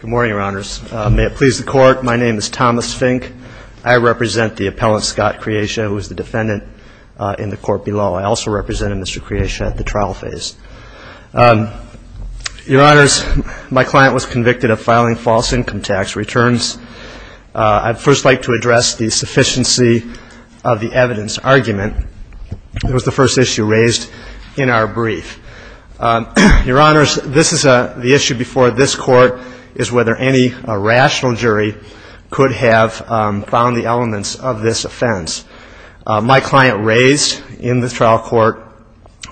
Good morning, Your Honors. May it please the Court, my name is Thomas Fink. I represent the appellant, Scott Creasia, who is the defendant in the court below. I also represent Mr. Creasia at the trial phase. Your Honors, my client was convicted of filing false income tax returns. I'd first like to address the sufficiency of the evidence argument. It was the first issue raised in our brief. Your Honors, this is the issue before this Court, is whether any rational jury could have found the elements of this offense. My client raised in the trial court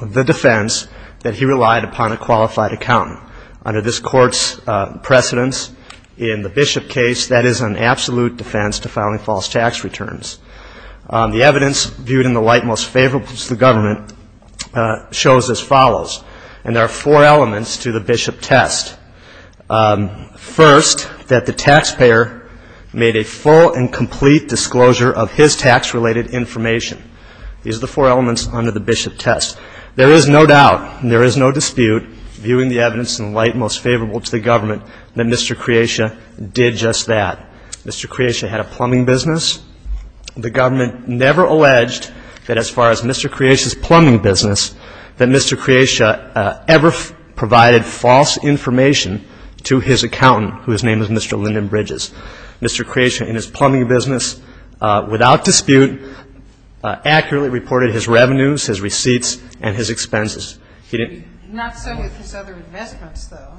the defense that he relied upon a qualified accountant. Under this Court's precedence in the Bishop case, that is an absolute defense to filing false tax returns. The evidence viewed in the light most favorable to the government shows as follows. And there are four elements to the Bishop test. First, that the taxpayer made a full and complete disclosure of his tax-related information. These are the four elements under the Bishop test. There is no doubt and there is no dispute, viewing the evidence in the light most favorable to the government, that Mr. Creasia did just that. Mr. Creasia had a plumbing business. The government never alleged that as far as Mr. Creasia's plumbing business, that Mr. Creasia ever provided false information to his accountant, whose name is Mr. Lyndon Bridges. Mr. Creasia, in his plumbing business, without dispute, accurately reported his revenues, his receipts, and his expenses. He didn't... Not so with his other investments, though.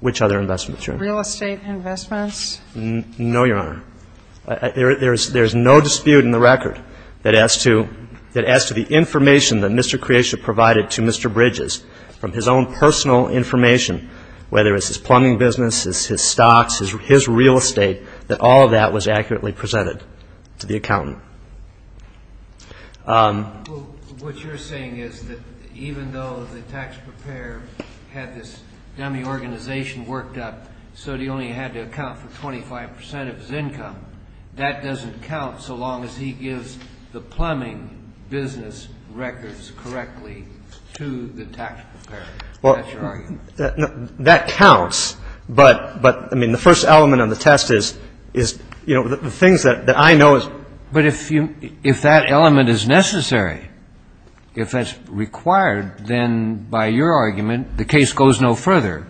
Which other investments, Your Honor? Real estate investments. No, Your Honor. There is no dispute in the record that as to the information that Mr. Creasia provided to Mr. Bridges, from his own personal information, whether it's his plumbing business, his stocks, his real estate, that all of that was accurately presented to the accountant. Well, what you're saying is that even though the tax preparer had this dummy organization worked up so he only had to account for 25 percent of his income, that doesn't count so long as he gives the plumbing business records correctly to the tax preparer. That's your argument. Well, that counts, but, I mean, the first element of the test is, you know, the things that I know is... But if that element is necessary, if it's required, then by your argument, the case goes no further.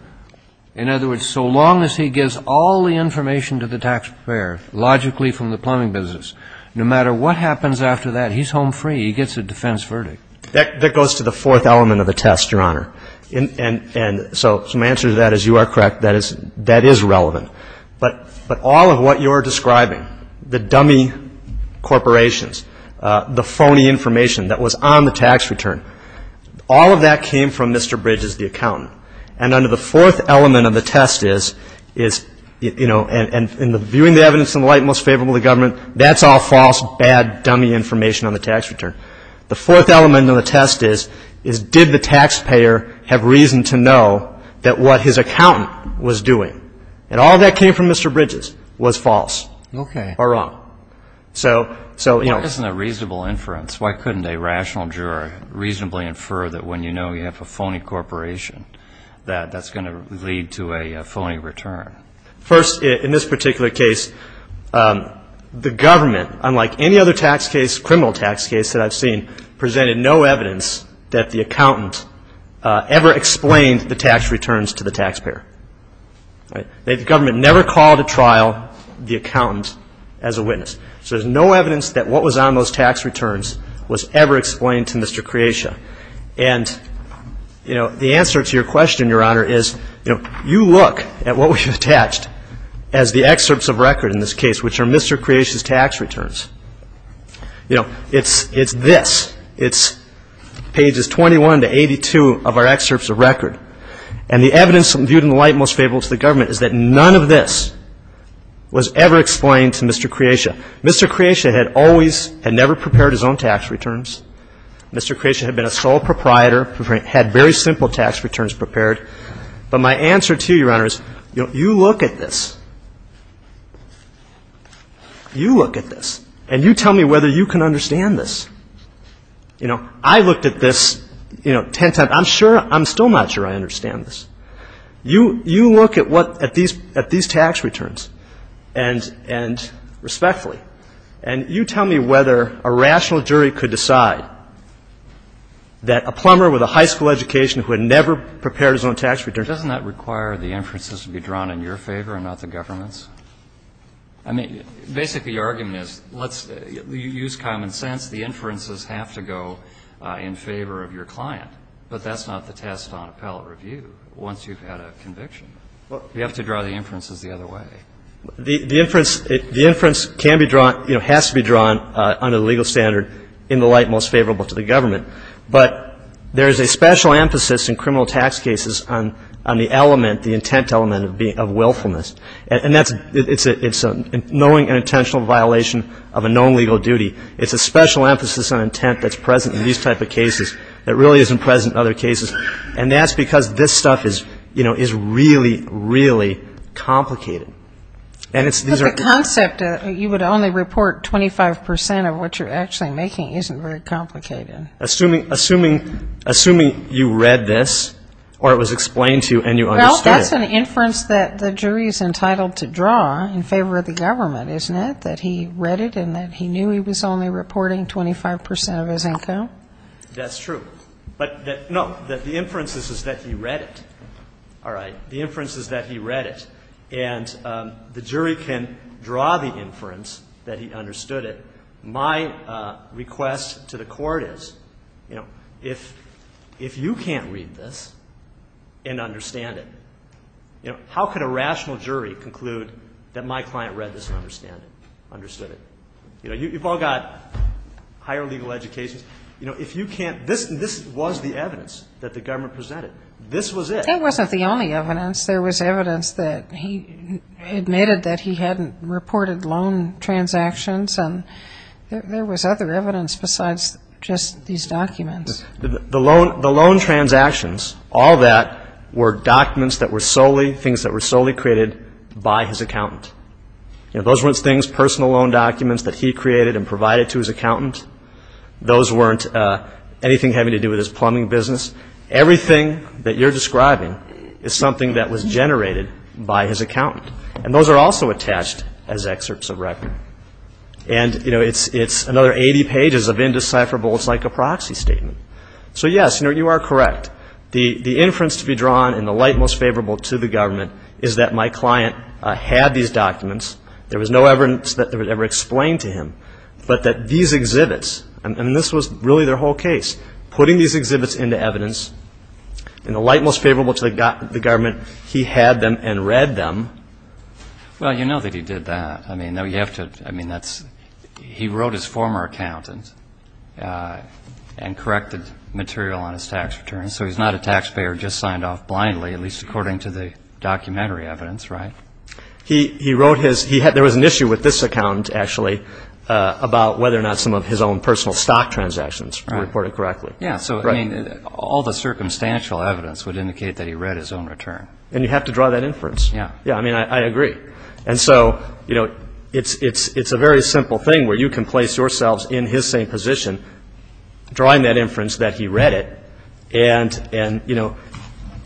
In other words, so long as he gives all the information to the tax preparer, logically from the plumbing business, no matter what happens after that, he's home free, he gets a defense verdict. That goes to the fourth element of the test, Your Honor. And so my answer to that is you are correct, that is relevant. But all of what you're describing, the dummy corporations, the phony information that was on the tax return, all of that came from Mr. Bridges, the accountant. And under the fourth element of the test is, you know, and viewing the evidence in the light most favorable to government, that's all false, bad, dummy information on the tax return. The fourth element of the test is, did the taxpayer have reason to know that what his accountant was doing? And all that came from Mr. Bridges was false. Okay. Or wrong. So, you know. Why isn't there reasonable inference? Why couldn't a rational juror reasonably infer that when you know you have a phony corporation, that that's going to lead to a phony return? First, in this particular case, the government, unlike any other tax case, criminal tax case that I've seen, presented no evidence that the accountant ever explained the tax returns to the taxpayer. The government never called a trial the accountant as a witness. So there's no evidence that what was on those tax returns was ever explained to Mr. Kreatia. And, you know, the answer to your question, Your Honor, is, you know, you look at what we've attached as the excerpts of record in this case, which are Mr. Kreatia's tax returns. You know, it's this. It's pages 21 to 82 of our excerpts of record. And the evidence viewed in the light most favorable to the government is that none of this was ever explained to Mr. Kreatia. I mean, Mr. Kreatia had always, had never prepared his own tax returns. Mr. Kreatia had been a sole proprietor, had very simple tax returns prepared. But my answer to you, Your Honor, is, you know, you look at this. You look at this, and you tell me whether you can understand this. You know, I looked at this, you know, ten times. I'm sure, I'm still not sure I understand this. You look at what, at these tax returns, and respectfully, and you tell me whether a rational jury could decide that a plumber with a high school education who had never prepared his own tax returns. Doesn't that require the inferences to be drawn in your favor and not the government's? I mean, basically, your argument is, let's use common sense. The inferences have to go in favor of your client. But that's not the test on appellate review, once you've had a conviction. You have to draw the inferences the other way. The inference can be drawn, you know, has to be drawn under the legal standard in the light most favorable to the government. But there is a special emphasis in criminal tax cases on the element, the intent element of willfulness. And that's, it's a knowing and intentional violation of a known legal duty. It's a special emphasis on intent that's present in these type of cases. It really isn't present in other cases. And that's because this stuff is, you know, is really, really complicated. And it's, these are. But the concept that you would only report 25% of what you're actually making isn't very complicated. Assuming, assuming, assuming you read this or it was explained to you and you understood it. Well, that's an inference that the jury is entitled to draw in favor of the government, isn't it? That he read it and that he knew he was only reporting 25% of his income? That's true. But, no, the inference is that he read it. All right. The inference is that he read it. And the jury can draw the inference that he understood it. My request to the Court is, you know, if you can't read this and understand it, you know, how could a rational jury conclude that my client read this and understood it? You know, you've all got higher legal educations. You know, if you can't, this was the evidence that the government presented. This was it. That wasn't the only evidence. There was evidence that he admitted that he hadn't reported loan transactions. And there was other evidence besides just these documents. The loan transactions, all that were documents that were solely, things that were solely created by his accountant. You know, those weren't things, personal loan documents that he created and provided to his accountant. Those weren't anything having to do with his plumbing business. Everything that you're describing is something that was generated by his accountant. And those are also attached as excerpts of record. And, you know, it's another 80 pages of indecipherable. It's like a proxy statement. So, yes, you know, you are correct. The inference to be drawn in the light most favorable to the government is that my client had these documents. There was no evidence that they were ever explained to him. But that these exhibits, and this was really their whole case, putting these exhibits into evidence, in the light most favorable to the government, he had them and read them. Well, you know that he did that. I mean, you have to, I mean, that's, he wrote his former accountant and corrected material on his tax return. So he's not a taxpayer who just signed off blindly, at least according to the documentary evidence, right? He wrote his, he had, there was an issue with this accountant, actually, about whether or not some of his own personal stock transactions were reported correctly. Yeah, so, I mean, all the circumstantial evidence would indicate that he read his own return. And you have to draw that inference. Yeah. Yeah, I mean, I agree. And so, you know, it's a very simple thing where you can place yourselves in his same position, drawing that inference that he read it, and, you know,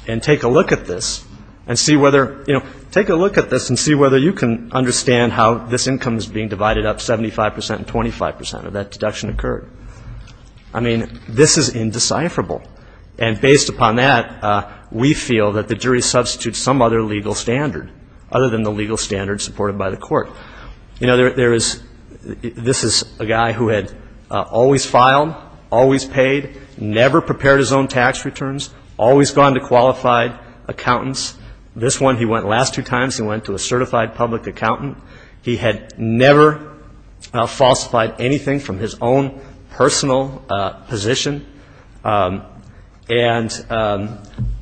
and take a look at this and see whether, you know, take a look at this and see whether you can understand how this income is being divided up 75 percent and 25 percent of that deduction occurred. I mean, this is indecipherable. And based upon that, we feel that the jury substitutes some other legal standard, other than the legal standard supported by the court. You know, there is, this is a guy who had always filed, always paid, never prepared his own tax returns, always gone to qualified accountants. This one, he went last two times, he went to a certified public accountant. He had never falsified anything from his own personal position. And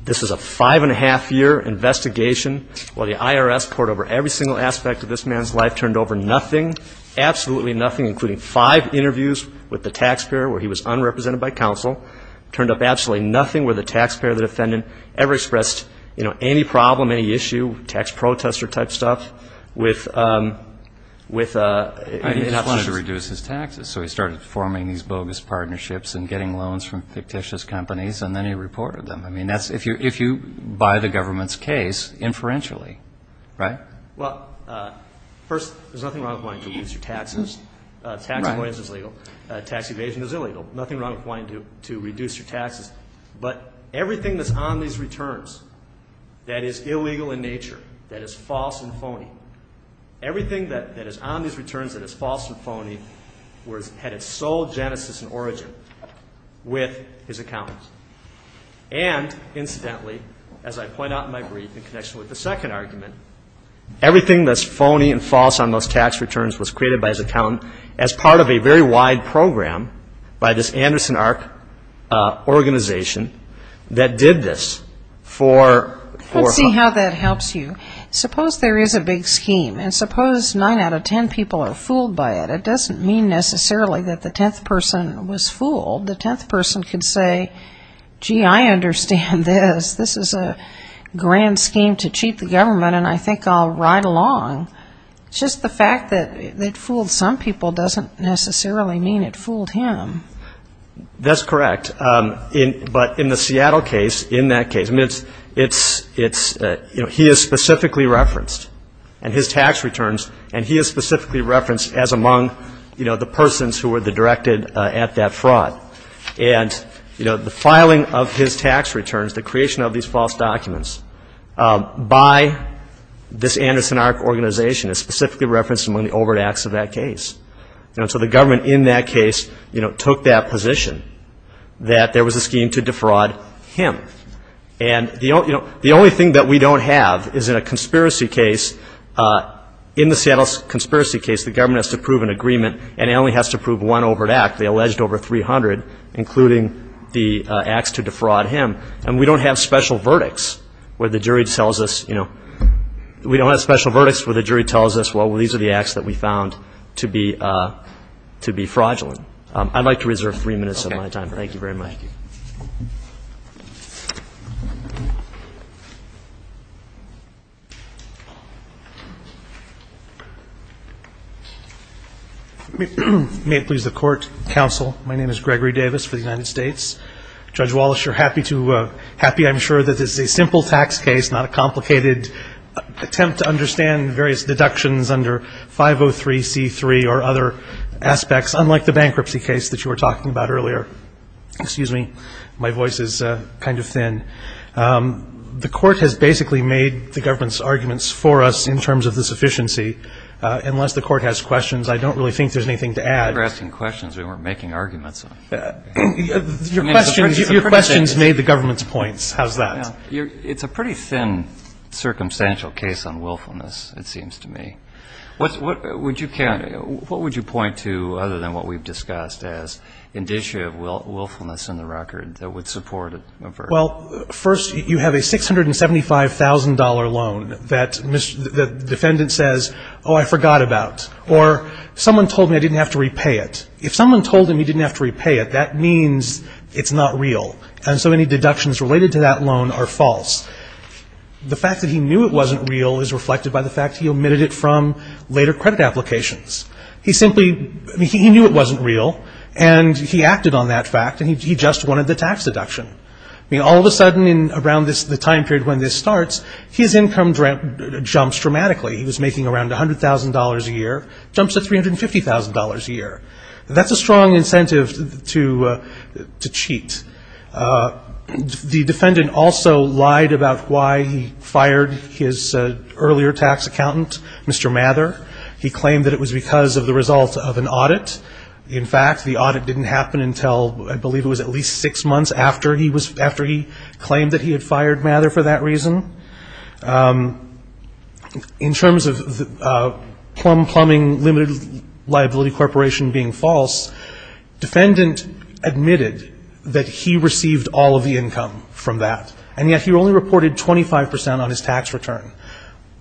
this is a five-and-a-half-year investigation. Well, the IRS poured over every single aspect of this man's life, turned over nothing, absolutely nothing, including five interviews with the taxpayer where he was unrepresented by counsel, turned up absolutely nothing where the taxpayer or the defendant ever expressed, you know, any problem, any issue, tax protester type stuff. He wanted to reduce his taxes, so he started forming these bogus partnerships and getting loans from fictitious companies, and then he reported them. I mean, that's, if you buy the government's case, inferentially, right? Well, first, there's nothing wrong with wanting to reduce your taxes. Tax avoidance is legal. Tax evasion is illegal. Nothing wrong with wanting to reduce your taxes. But everything that's on these returns that is illegal in nature, that is false and phony, everything that is on these returns that is false and phony had its sole genesis and origin with his accountant. And, incidentally, as I point out in my brief in connection with the second argument, everything that's phony and false on those tax returns was created by his accountant as part of a very wide program by this Anderson Arc organization that did this for... Let's see how that helps you. Suppose there is a big scheme, and suppose 9 out of 10 people are fooled by it. It doesn't mean necessarily that the 10th person was fooled. The 10th person could say, gee, I understand this. This is a grand scheme to cheat the government, and I think I'll ride along. It's just the fact that it fooled some people doesn't necessarily mean it fooled him. That's correct. But in the Seattle case, in that case, I mean, it's, you know, he is specifically referenced. And his tax returns, and he is specifically referenced as among, you know, the persons who were the directed at that fraud. And, you know, the filing of his tax returns, the creation of these false documents, by this Anderson Arc organization is specifically referenced among the overt acts of that case. And so the government in that case, you know, took that position that there was a scheme to defraud him. And, you know, the only thing that we don't have is in a conspiracy case, in the Seattle conspiracy case, the government has to prove an agreement, and it only has to prove one overt act. They alleged over 300, including the acts to defraud him. And we don't have special verdicts where the jury tells us, you know, we don't have special verdicts where the jury tells us, well, these are the acts that we found to be fraudulent. I'd like to reserve three minutes of my time. Thank you very much. Thank you. May it please the Court, Counsel, my name is Gregory Davis for the United States. Judge Wallace, you're happy to go. Happy, I'm sure, that this is a simple tax case, not a complicated attempt to understand various deductions under 503C3 or other aspects, unlike the bankruptcy case that you were talking about earlier. Excuse me. My voice is kind of thin. The Court has basically made the government's arguments for us in terms of the sufficiency. Unless the Court has questions, I don't really think there's anything to add. We're asking questions. We weren't making arguments. Your question has made the government's points. How's that? It's a pretty thin circumstantial case on willfulness, it seems to me. What would you point to, other than what we've discussed, as indicia of willfulness in the record that would support a verdict? Well, first, you have a $675,000 loan that the defendant says, oh, I forgot about, or someone told me I didn't have to repay it. If someone told him he didn't have to repay it, that means it's not real, and so any deductions related to that loan are false. The fact that he knew it wasn't real is reflected by the fact he omitted it from later credit applications. He knew it wasn't real, and he acted on that fact, and he just wanted the tax deduction. All of a sudden, around the time period when this starts, his income jumps dramatically. He was making around $100,000 a year, jumps to $350,000 a year. That's a strong incentive to cheat. The defendant also lied about why he fired his earlier tax accountant, Mr. Mather. He claimed that it was because of the result of an audit. In fact, the audit didn't happen until I believe it was at least six months after he claimed that he had fired Mather for that reason. In terms of plum plumbing limited liability corporation being false, defendant admitted that he received all of the income from that, and yet he only reported 25 percent on his tax return.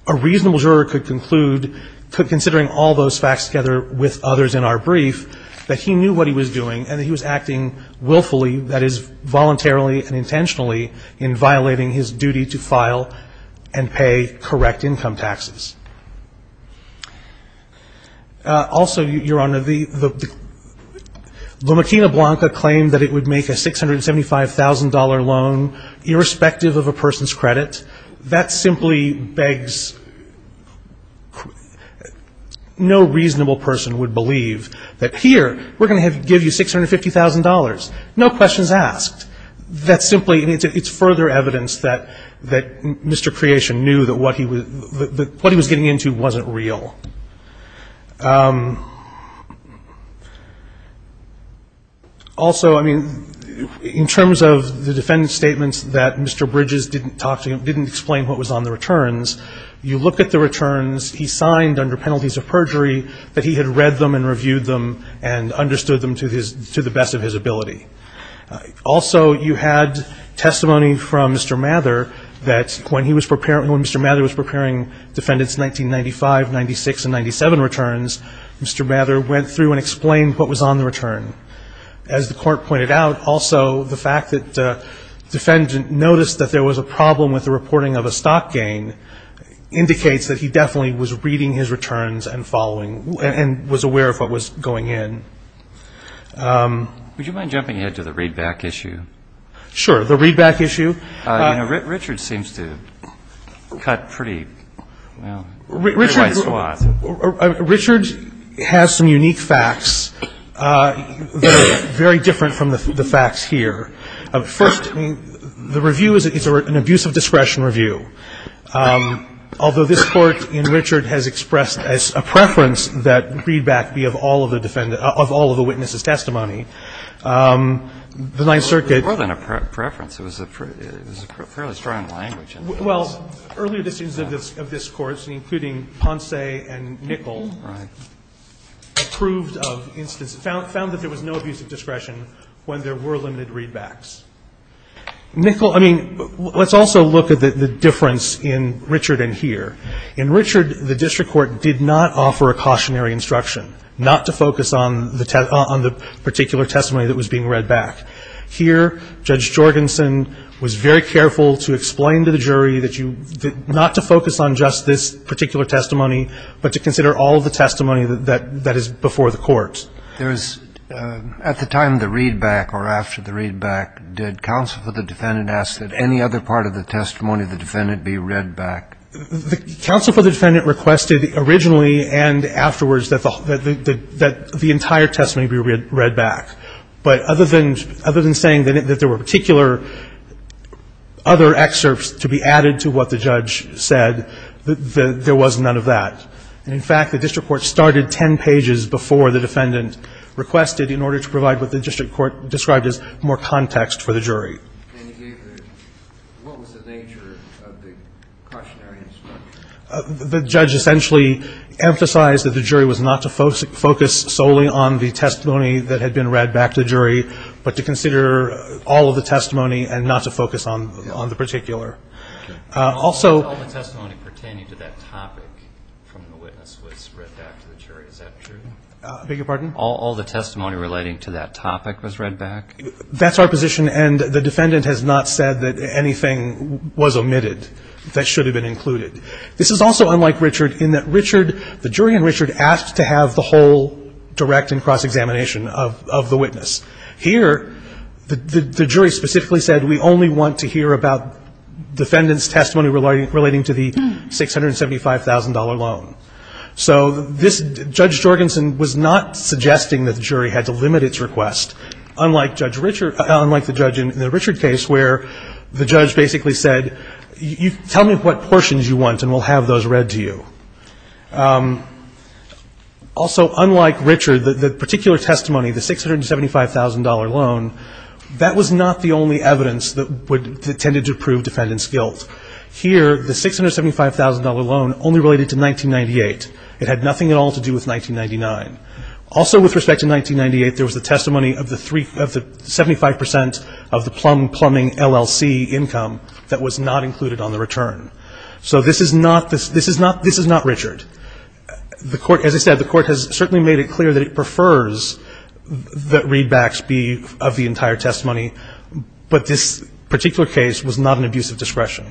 A reasonable juror could conclude, considering all those facts together with others in our brief, that he knew what he was doing and that he was acting willfully, that is, and pay correct income taxes. Also, Your Honor, the Makina Blanca claimed that it would make a $675,000 loan irrespective of a person's credit. That simply begs no reasonable person would believe that here we're going to give you $650,000. No questions asked. That simply, it's further evidence that Mr. Creation knew that what he was getting into wasn't real. Also, I mean, in terms of the defendant's statements that Mr. Bridges didn't talk to him, didn't explain what was on the returns, you look at the returns he signed under penalties of perjury, that he had read them and reviewed them and understood them to the best of his ability. Also, you had testimony from Mr. Mather that when he was preparing, when Mr. Mather was preparing defendants' 1995, 96, and 97 returns, Mr. Mather went through and explained what was on the return. As the Court pointed out, also, the fact that the defendant noticed that there was a problem with the reporting of a stock gain indicates that he definitely was reading his returns and following and was aware of what was going in. Would you mind jumping ahead to the readback issue? Sure. The readback issue. You know, Richard seems to cut pretty, well, pretty wide swath. Richard has some unique facts that are very different from the facts here. First, the review is an abuse of discretion review. Although this Court in Richard has expressed as a preference that readback be of all of the witnesses' testimony, the Ninth Circuit. More than a preference. It was a fairly strong language in this. Well, earlier decisions of this Court, including Ponce and Nichol, proved of instances found that there was no abuse of discretion when there were limited readbacks. Nichol, I mean, let's also look at the difference in Richard and here. In Richard, the district court did not offer a cautionary instruction, not to focus on the particular testimony that was being read back. Here, Judge Jorgensen was very careful to explain to the jury that you, not to focus on just this particular testimony, but to consider all of the testimony that is before the Court. At the time of the readback or after the readback, did counsel for the defendant ask that any other part of the testimony of the defendant be read back? Counsel for the defendant requested originally and afterwards that the entire testimony be read back. But other than saying that there were particular other excerpts to be added to what the judge said, there was none of that. And, in fact, the district court started 10 pages before the defendant requested in order to provide what the district court described as more context for the jury. And you gave the, what was the nature of the cautionary instruction? The judge essentially emphasized that the jury was not to focus solely on the testimony that had been read back to the jury, but to consider all of the testimony and not to focus on the particular. Also. All the testimony pertaining to that topic from the witness was read back to the jury. Is that true? I beg your pardon? All the testimony relating to that topic was read back? That's our position. And the defendant has not said that anything was omitted that should have been included. This is also unlike Richard in that Richard, the jury in Richard asked to have the whole direct and cross-examination of the witness. Here, the jury specifically said, we only want to hear about defendant's testimony relating to the $675,000 loan. So this, Judge Jorgensen was not suggesting that the jury had to limit its request, unlike Judge Richard, unlike the judge in the Richard case where the judge basically said, tell me what portions you want and we'll have those read to you. Also, unlike Richard, the particular testimony, the $675,000 loan, that was not the only evidence that tended to prove defendant's guilt. Here, the $675,000 loan only related to 1998. It had nothing at all to do with 1999. Also, with respect to 1998, there was the testimony of the 75 percent of the Plum Plumbing LLC income that was not included on the return. So this is not Richard. The court, as I said, the court has certainly made it clear that it prefers that readbacks be of the entire testimony. But this particular case was not an abuse of discretion.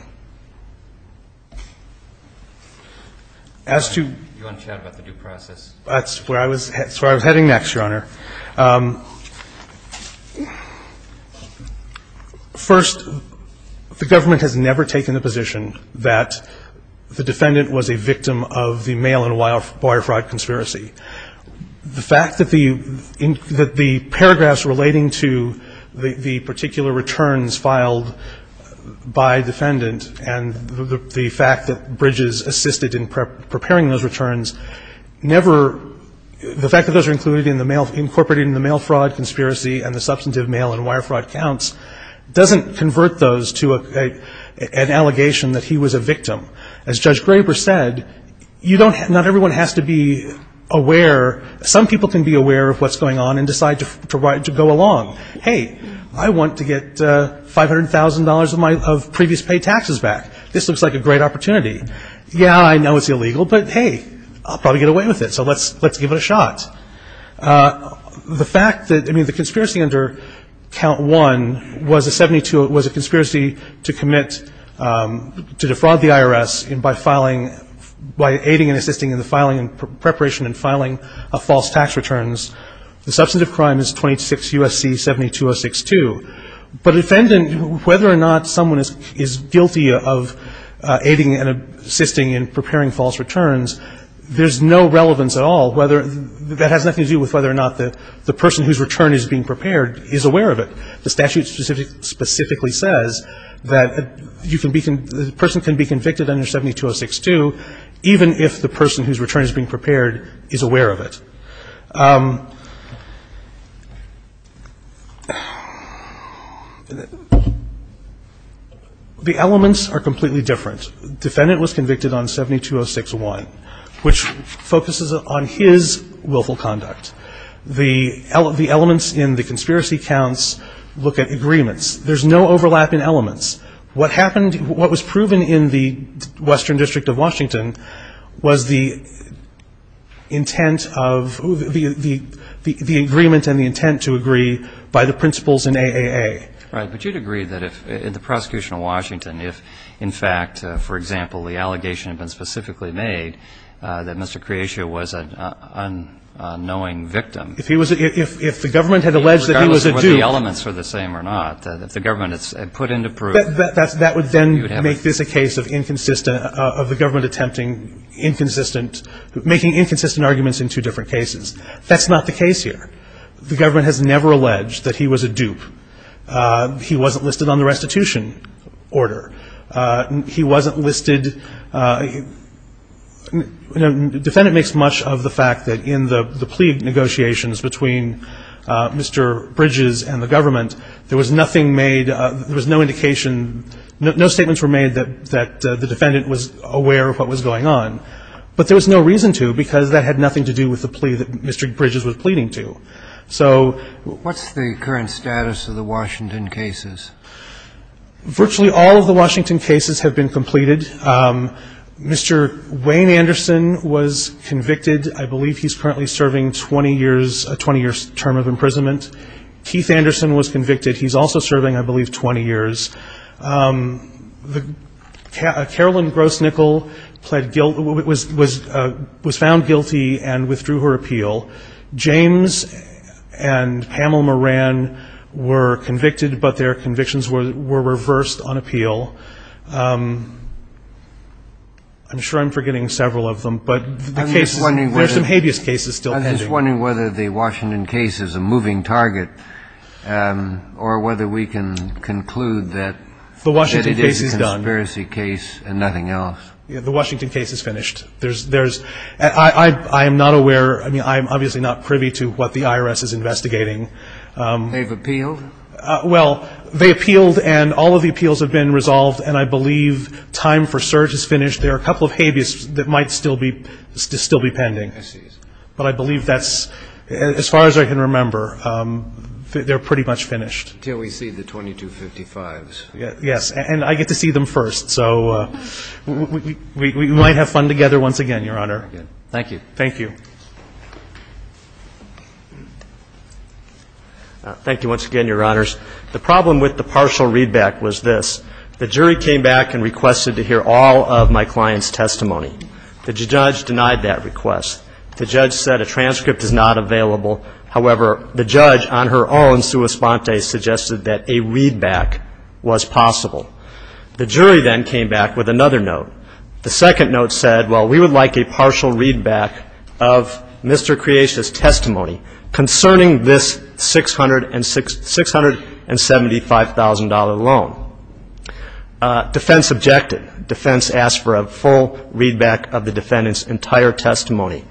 As to the due process, that's where I was heading next, Your Honor. First, the government has never taken the position that the defendant was a victim of the mail-in wire fraud conspiracy. The fact that the paragraphs relating to the particular returns filed by defendant and the fact that Bridges assisted in preparing those returns never, the fact that those are included in the mail, incorporated in the mail fraud conspiracy and the substantive mail-in wire fraud counts doesn't convert those to an allegation that he was a victim. As Judge Graber said, not everyone has to be aware. Some people can be aware of what's going on and decide to go along. Hey, I want to get $500,000 of previous paid taxes back. This looks like a great opportunity. Yeah, I know it's illegal, but hey, I'll probably get away with it. So let's give it a shot. The fact that, I mean, the conspiracy under count one was a 72, was a conspiracy to commit, to defraud the IRS by filing, by aiding and assisting in the filing and preparation and filing of false tax returns. The substantive crime is 26 U.S.C. 72062. But a defendant, whether or not someone is guilty of aiding and assisting has nothing to do with whether or not the person whose return is being prepared is aware of it. The statute specifically says that you can be, the person can be convicted under 72062 even if the person whose return is being prepared is aware of it. The elements are completely different. The defendant was convicted on 72061, which focuses on his willful conduct. The elements in the conspiracy counts look at agreements. There's no overlap in elements. What happened, what was proven in the Western District of Washington was the intent of, the agreement and the intent to agree by the principles in AAA. Right. But you'd agree that if, in the prosecution of Washington, if, in fact, for example, the allegation had been specifically made that Mr. Creacia was an unknowing victim. If he was a, if the government had alleged that he was a dupe. Regardless of whether the elements were the same or not, if the government had put into proof. That would then make this a case of inconsistent, of the government attempting inconsistent, making inconsistent arguments in two different cases. That's not the case here. The government has never alleged that he was a dupe. He wasn't listed on the restitution order. He wasn't listed. The defendant makes much of the fact that in the plea negotiations between Mr. Bridges and the government, there was nothing made, there was no indication, no statements were made that the defendant was aware of what was going on. But there was no reason to because that had nothing to do with the plea that Mr. Bridges had made. So. What's the current status of the Washington cases? Virtually all of the Washington cases have been completed. Mr. Wayne Anderson was convicted. I believe he's currently serving 20 years, a 20-year term of imprisonment. Keith Anderson was convicted. He's also serving, I believe, 20 years. Carolyn Grosnickle pled guilty, was found guilty and withdrew her appeal. James and Pamela Moran were convicted, but their convictions were reversed on appeal. I'm sure I'm forgetting several of them, but the cases, there's some habeas cases still pending. I'm just wondering whether the Washington case is a moving target or whether we can conclude that it is a conspiracy case and nothing else. The Washington case is done. The Washington case is finished. There's, I'm not aware, I mean, I'm obviously not privy to what the IRS is investigating. They've appealed? Well, they appealed and all of the appeals have been resolved and I believe time for search is finished. There are a couple of habeas that might still be pending. I see. But I believe that's, as far as I can remember, they're pretty much finished. Until we see the 2255s. Yes. And I get to see them first. So we might have fun together once again, Your Honor. Thank you. Thank you. Thank you once again, Your Honors. The problem with the partial readback was this. The jury came back and requested to hear all of my client's testimony. The judge denied that request. The judge said a transcript is not available. However, the judge on her own, sua sponte, suggested that a readback was possible. The jury then came back with another note. The second note said, well, we would like a partial readback of Mr. Creacia's testimony concerning this $675,000 loan. Defense objected. Defense asked for a full readback of the defendant's entire testimony.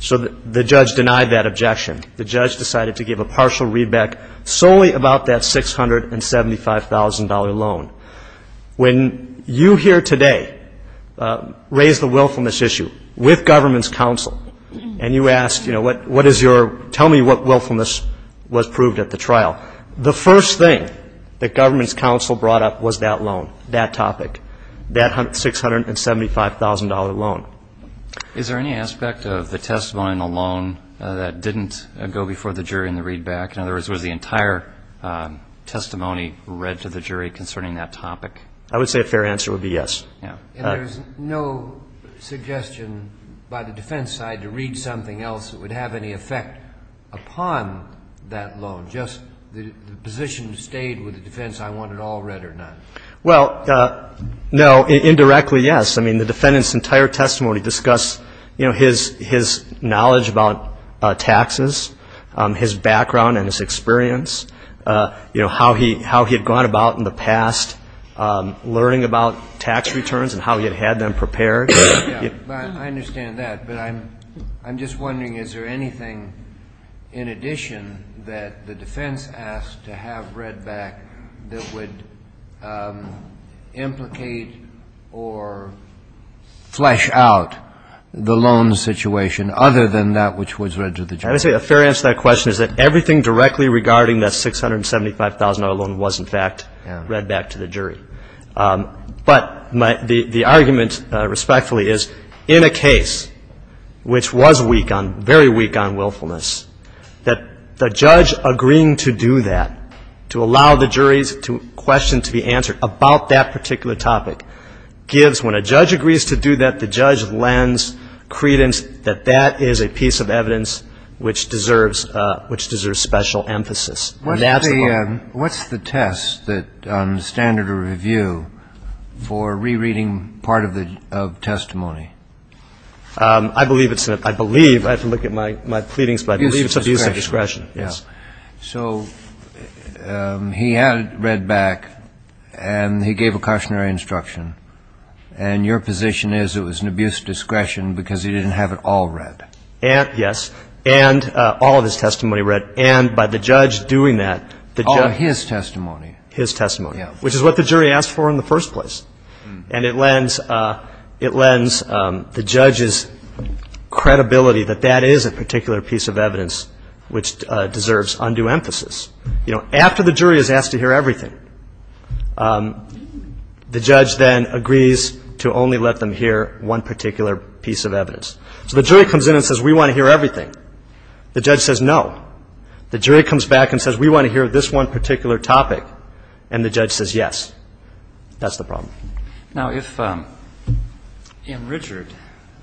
So the judge denied that objection. The judge decided to give a partial readback solely about that $675,000 loan. When you here today raised the willfulness issue with government's counsel and you asked, you know, what is your, tell me what willfulness was proved at the trial, the first thing that government's counsel brought up was that loan, that topic, that $675,000 loan. Is there any aspect of the testimony in the loan that didn't go before the jury in the readback? In other words, was the entire testimony read to the jury concerning that topic? I would say a fair answer would be yes. Yeah. And there's no suggestion by the defense side to read something else that would have any effect upon that loan, just the position stayed with the defense, I want it all read or none? Well, no. Indirectly, yes. I mean, the defendant's entire testimony discussed, you know, his knowledge about taxes, his background and his experience, you know, how he had gone about in the past learning about tax returns and how he had had them prepared. Yeah. I understand that. But I'm just wondering, is there anything in addition that the defense asked to have read back that would implicate or flesh out the loan situation other than that which was read to the jury? I would say a fair answer to that question is that everything directly regarding that $675,000 loan was, in fact, read back to the jury. But the argument, respectfully, is in a case which was weak on, very weak on willfulness, that the judge agreeing to do that, to allow the jury's question to be answered about that particular topic, gives, when a judge agrees to do that, the judge lends credence that that is a piece of evidence which deserves special emphasis. And that's the law. What's the test on standard of review for rereading part of the testimony? I believe it's a ‑‑ I believe. I have to look at my pleadings, but I believe it's abuse of discretion, yes. Abuse of discretion. So he had it read back, and he gave a cautionary instruction. And your position is it was an abuse of discretion because he didn't have it all read. Yes. And all of his testimony read. And by the judge doing that, the judge ‑‑ All his testimony. His testimony. Yes. Which is what the jury asked for in the first place. And it lends, it lends the judge's credibility that that is a particular piece of evidence which deserves special emphasis, undue emphasis. You know, after the jury is asked to hear everything, the judge then agrees to only let them hear one particular piece of evidence. So the jury comes in and says, we want to hear everything. The judge says no. The jury comes back and says, we want to hear this one particular topic. And the judge says yes. That's the problem. Now, if in Richard,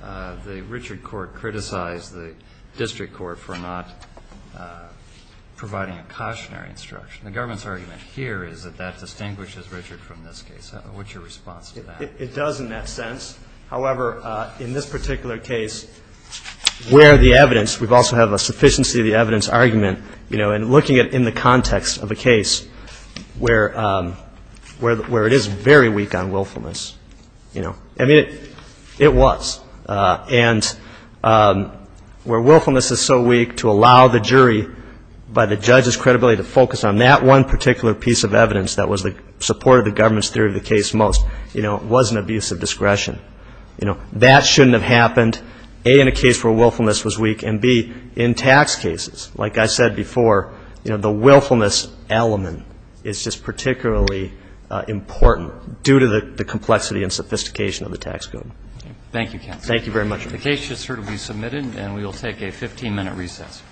the Richard court criticized the district court for not providing a cautionary instruction, the government's argument here is that that distinguishes Richard from this case. What's your response to that? It does in that sense. However, in this particular case, where the evidence ‑‑ we also have a sufficiency of the evidence argument, you know, and looking at it in the context of a case where it is very weak on willfulness, you know, I mean, it was. And where willfulness is so weak to allow the jury by the judge's credibility to focus on that one particular piece of evidence that supported the government's theory of the case most, you know, was an abuse of discretion. You know, that shouldn't have happened, A, in a case where willfulness was weak, and, B, in tax cases. Like I said before, you know, the willfulness element is just particularly important due to the complexity and sophistication of the tax code. Thank you, counsel. Thank you very much. The case should certainly be submitted, and we will take a 15‑minute recess. Thank you.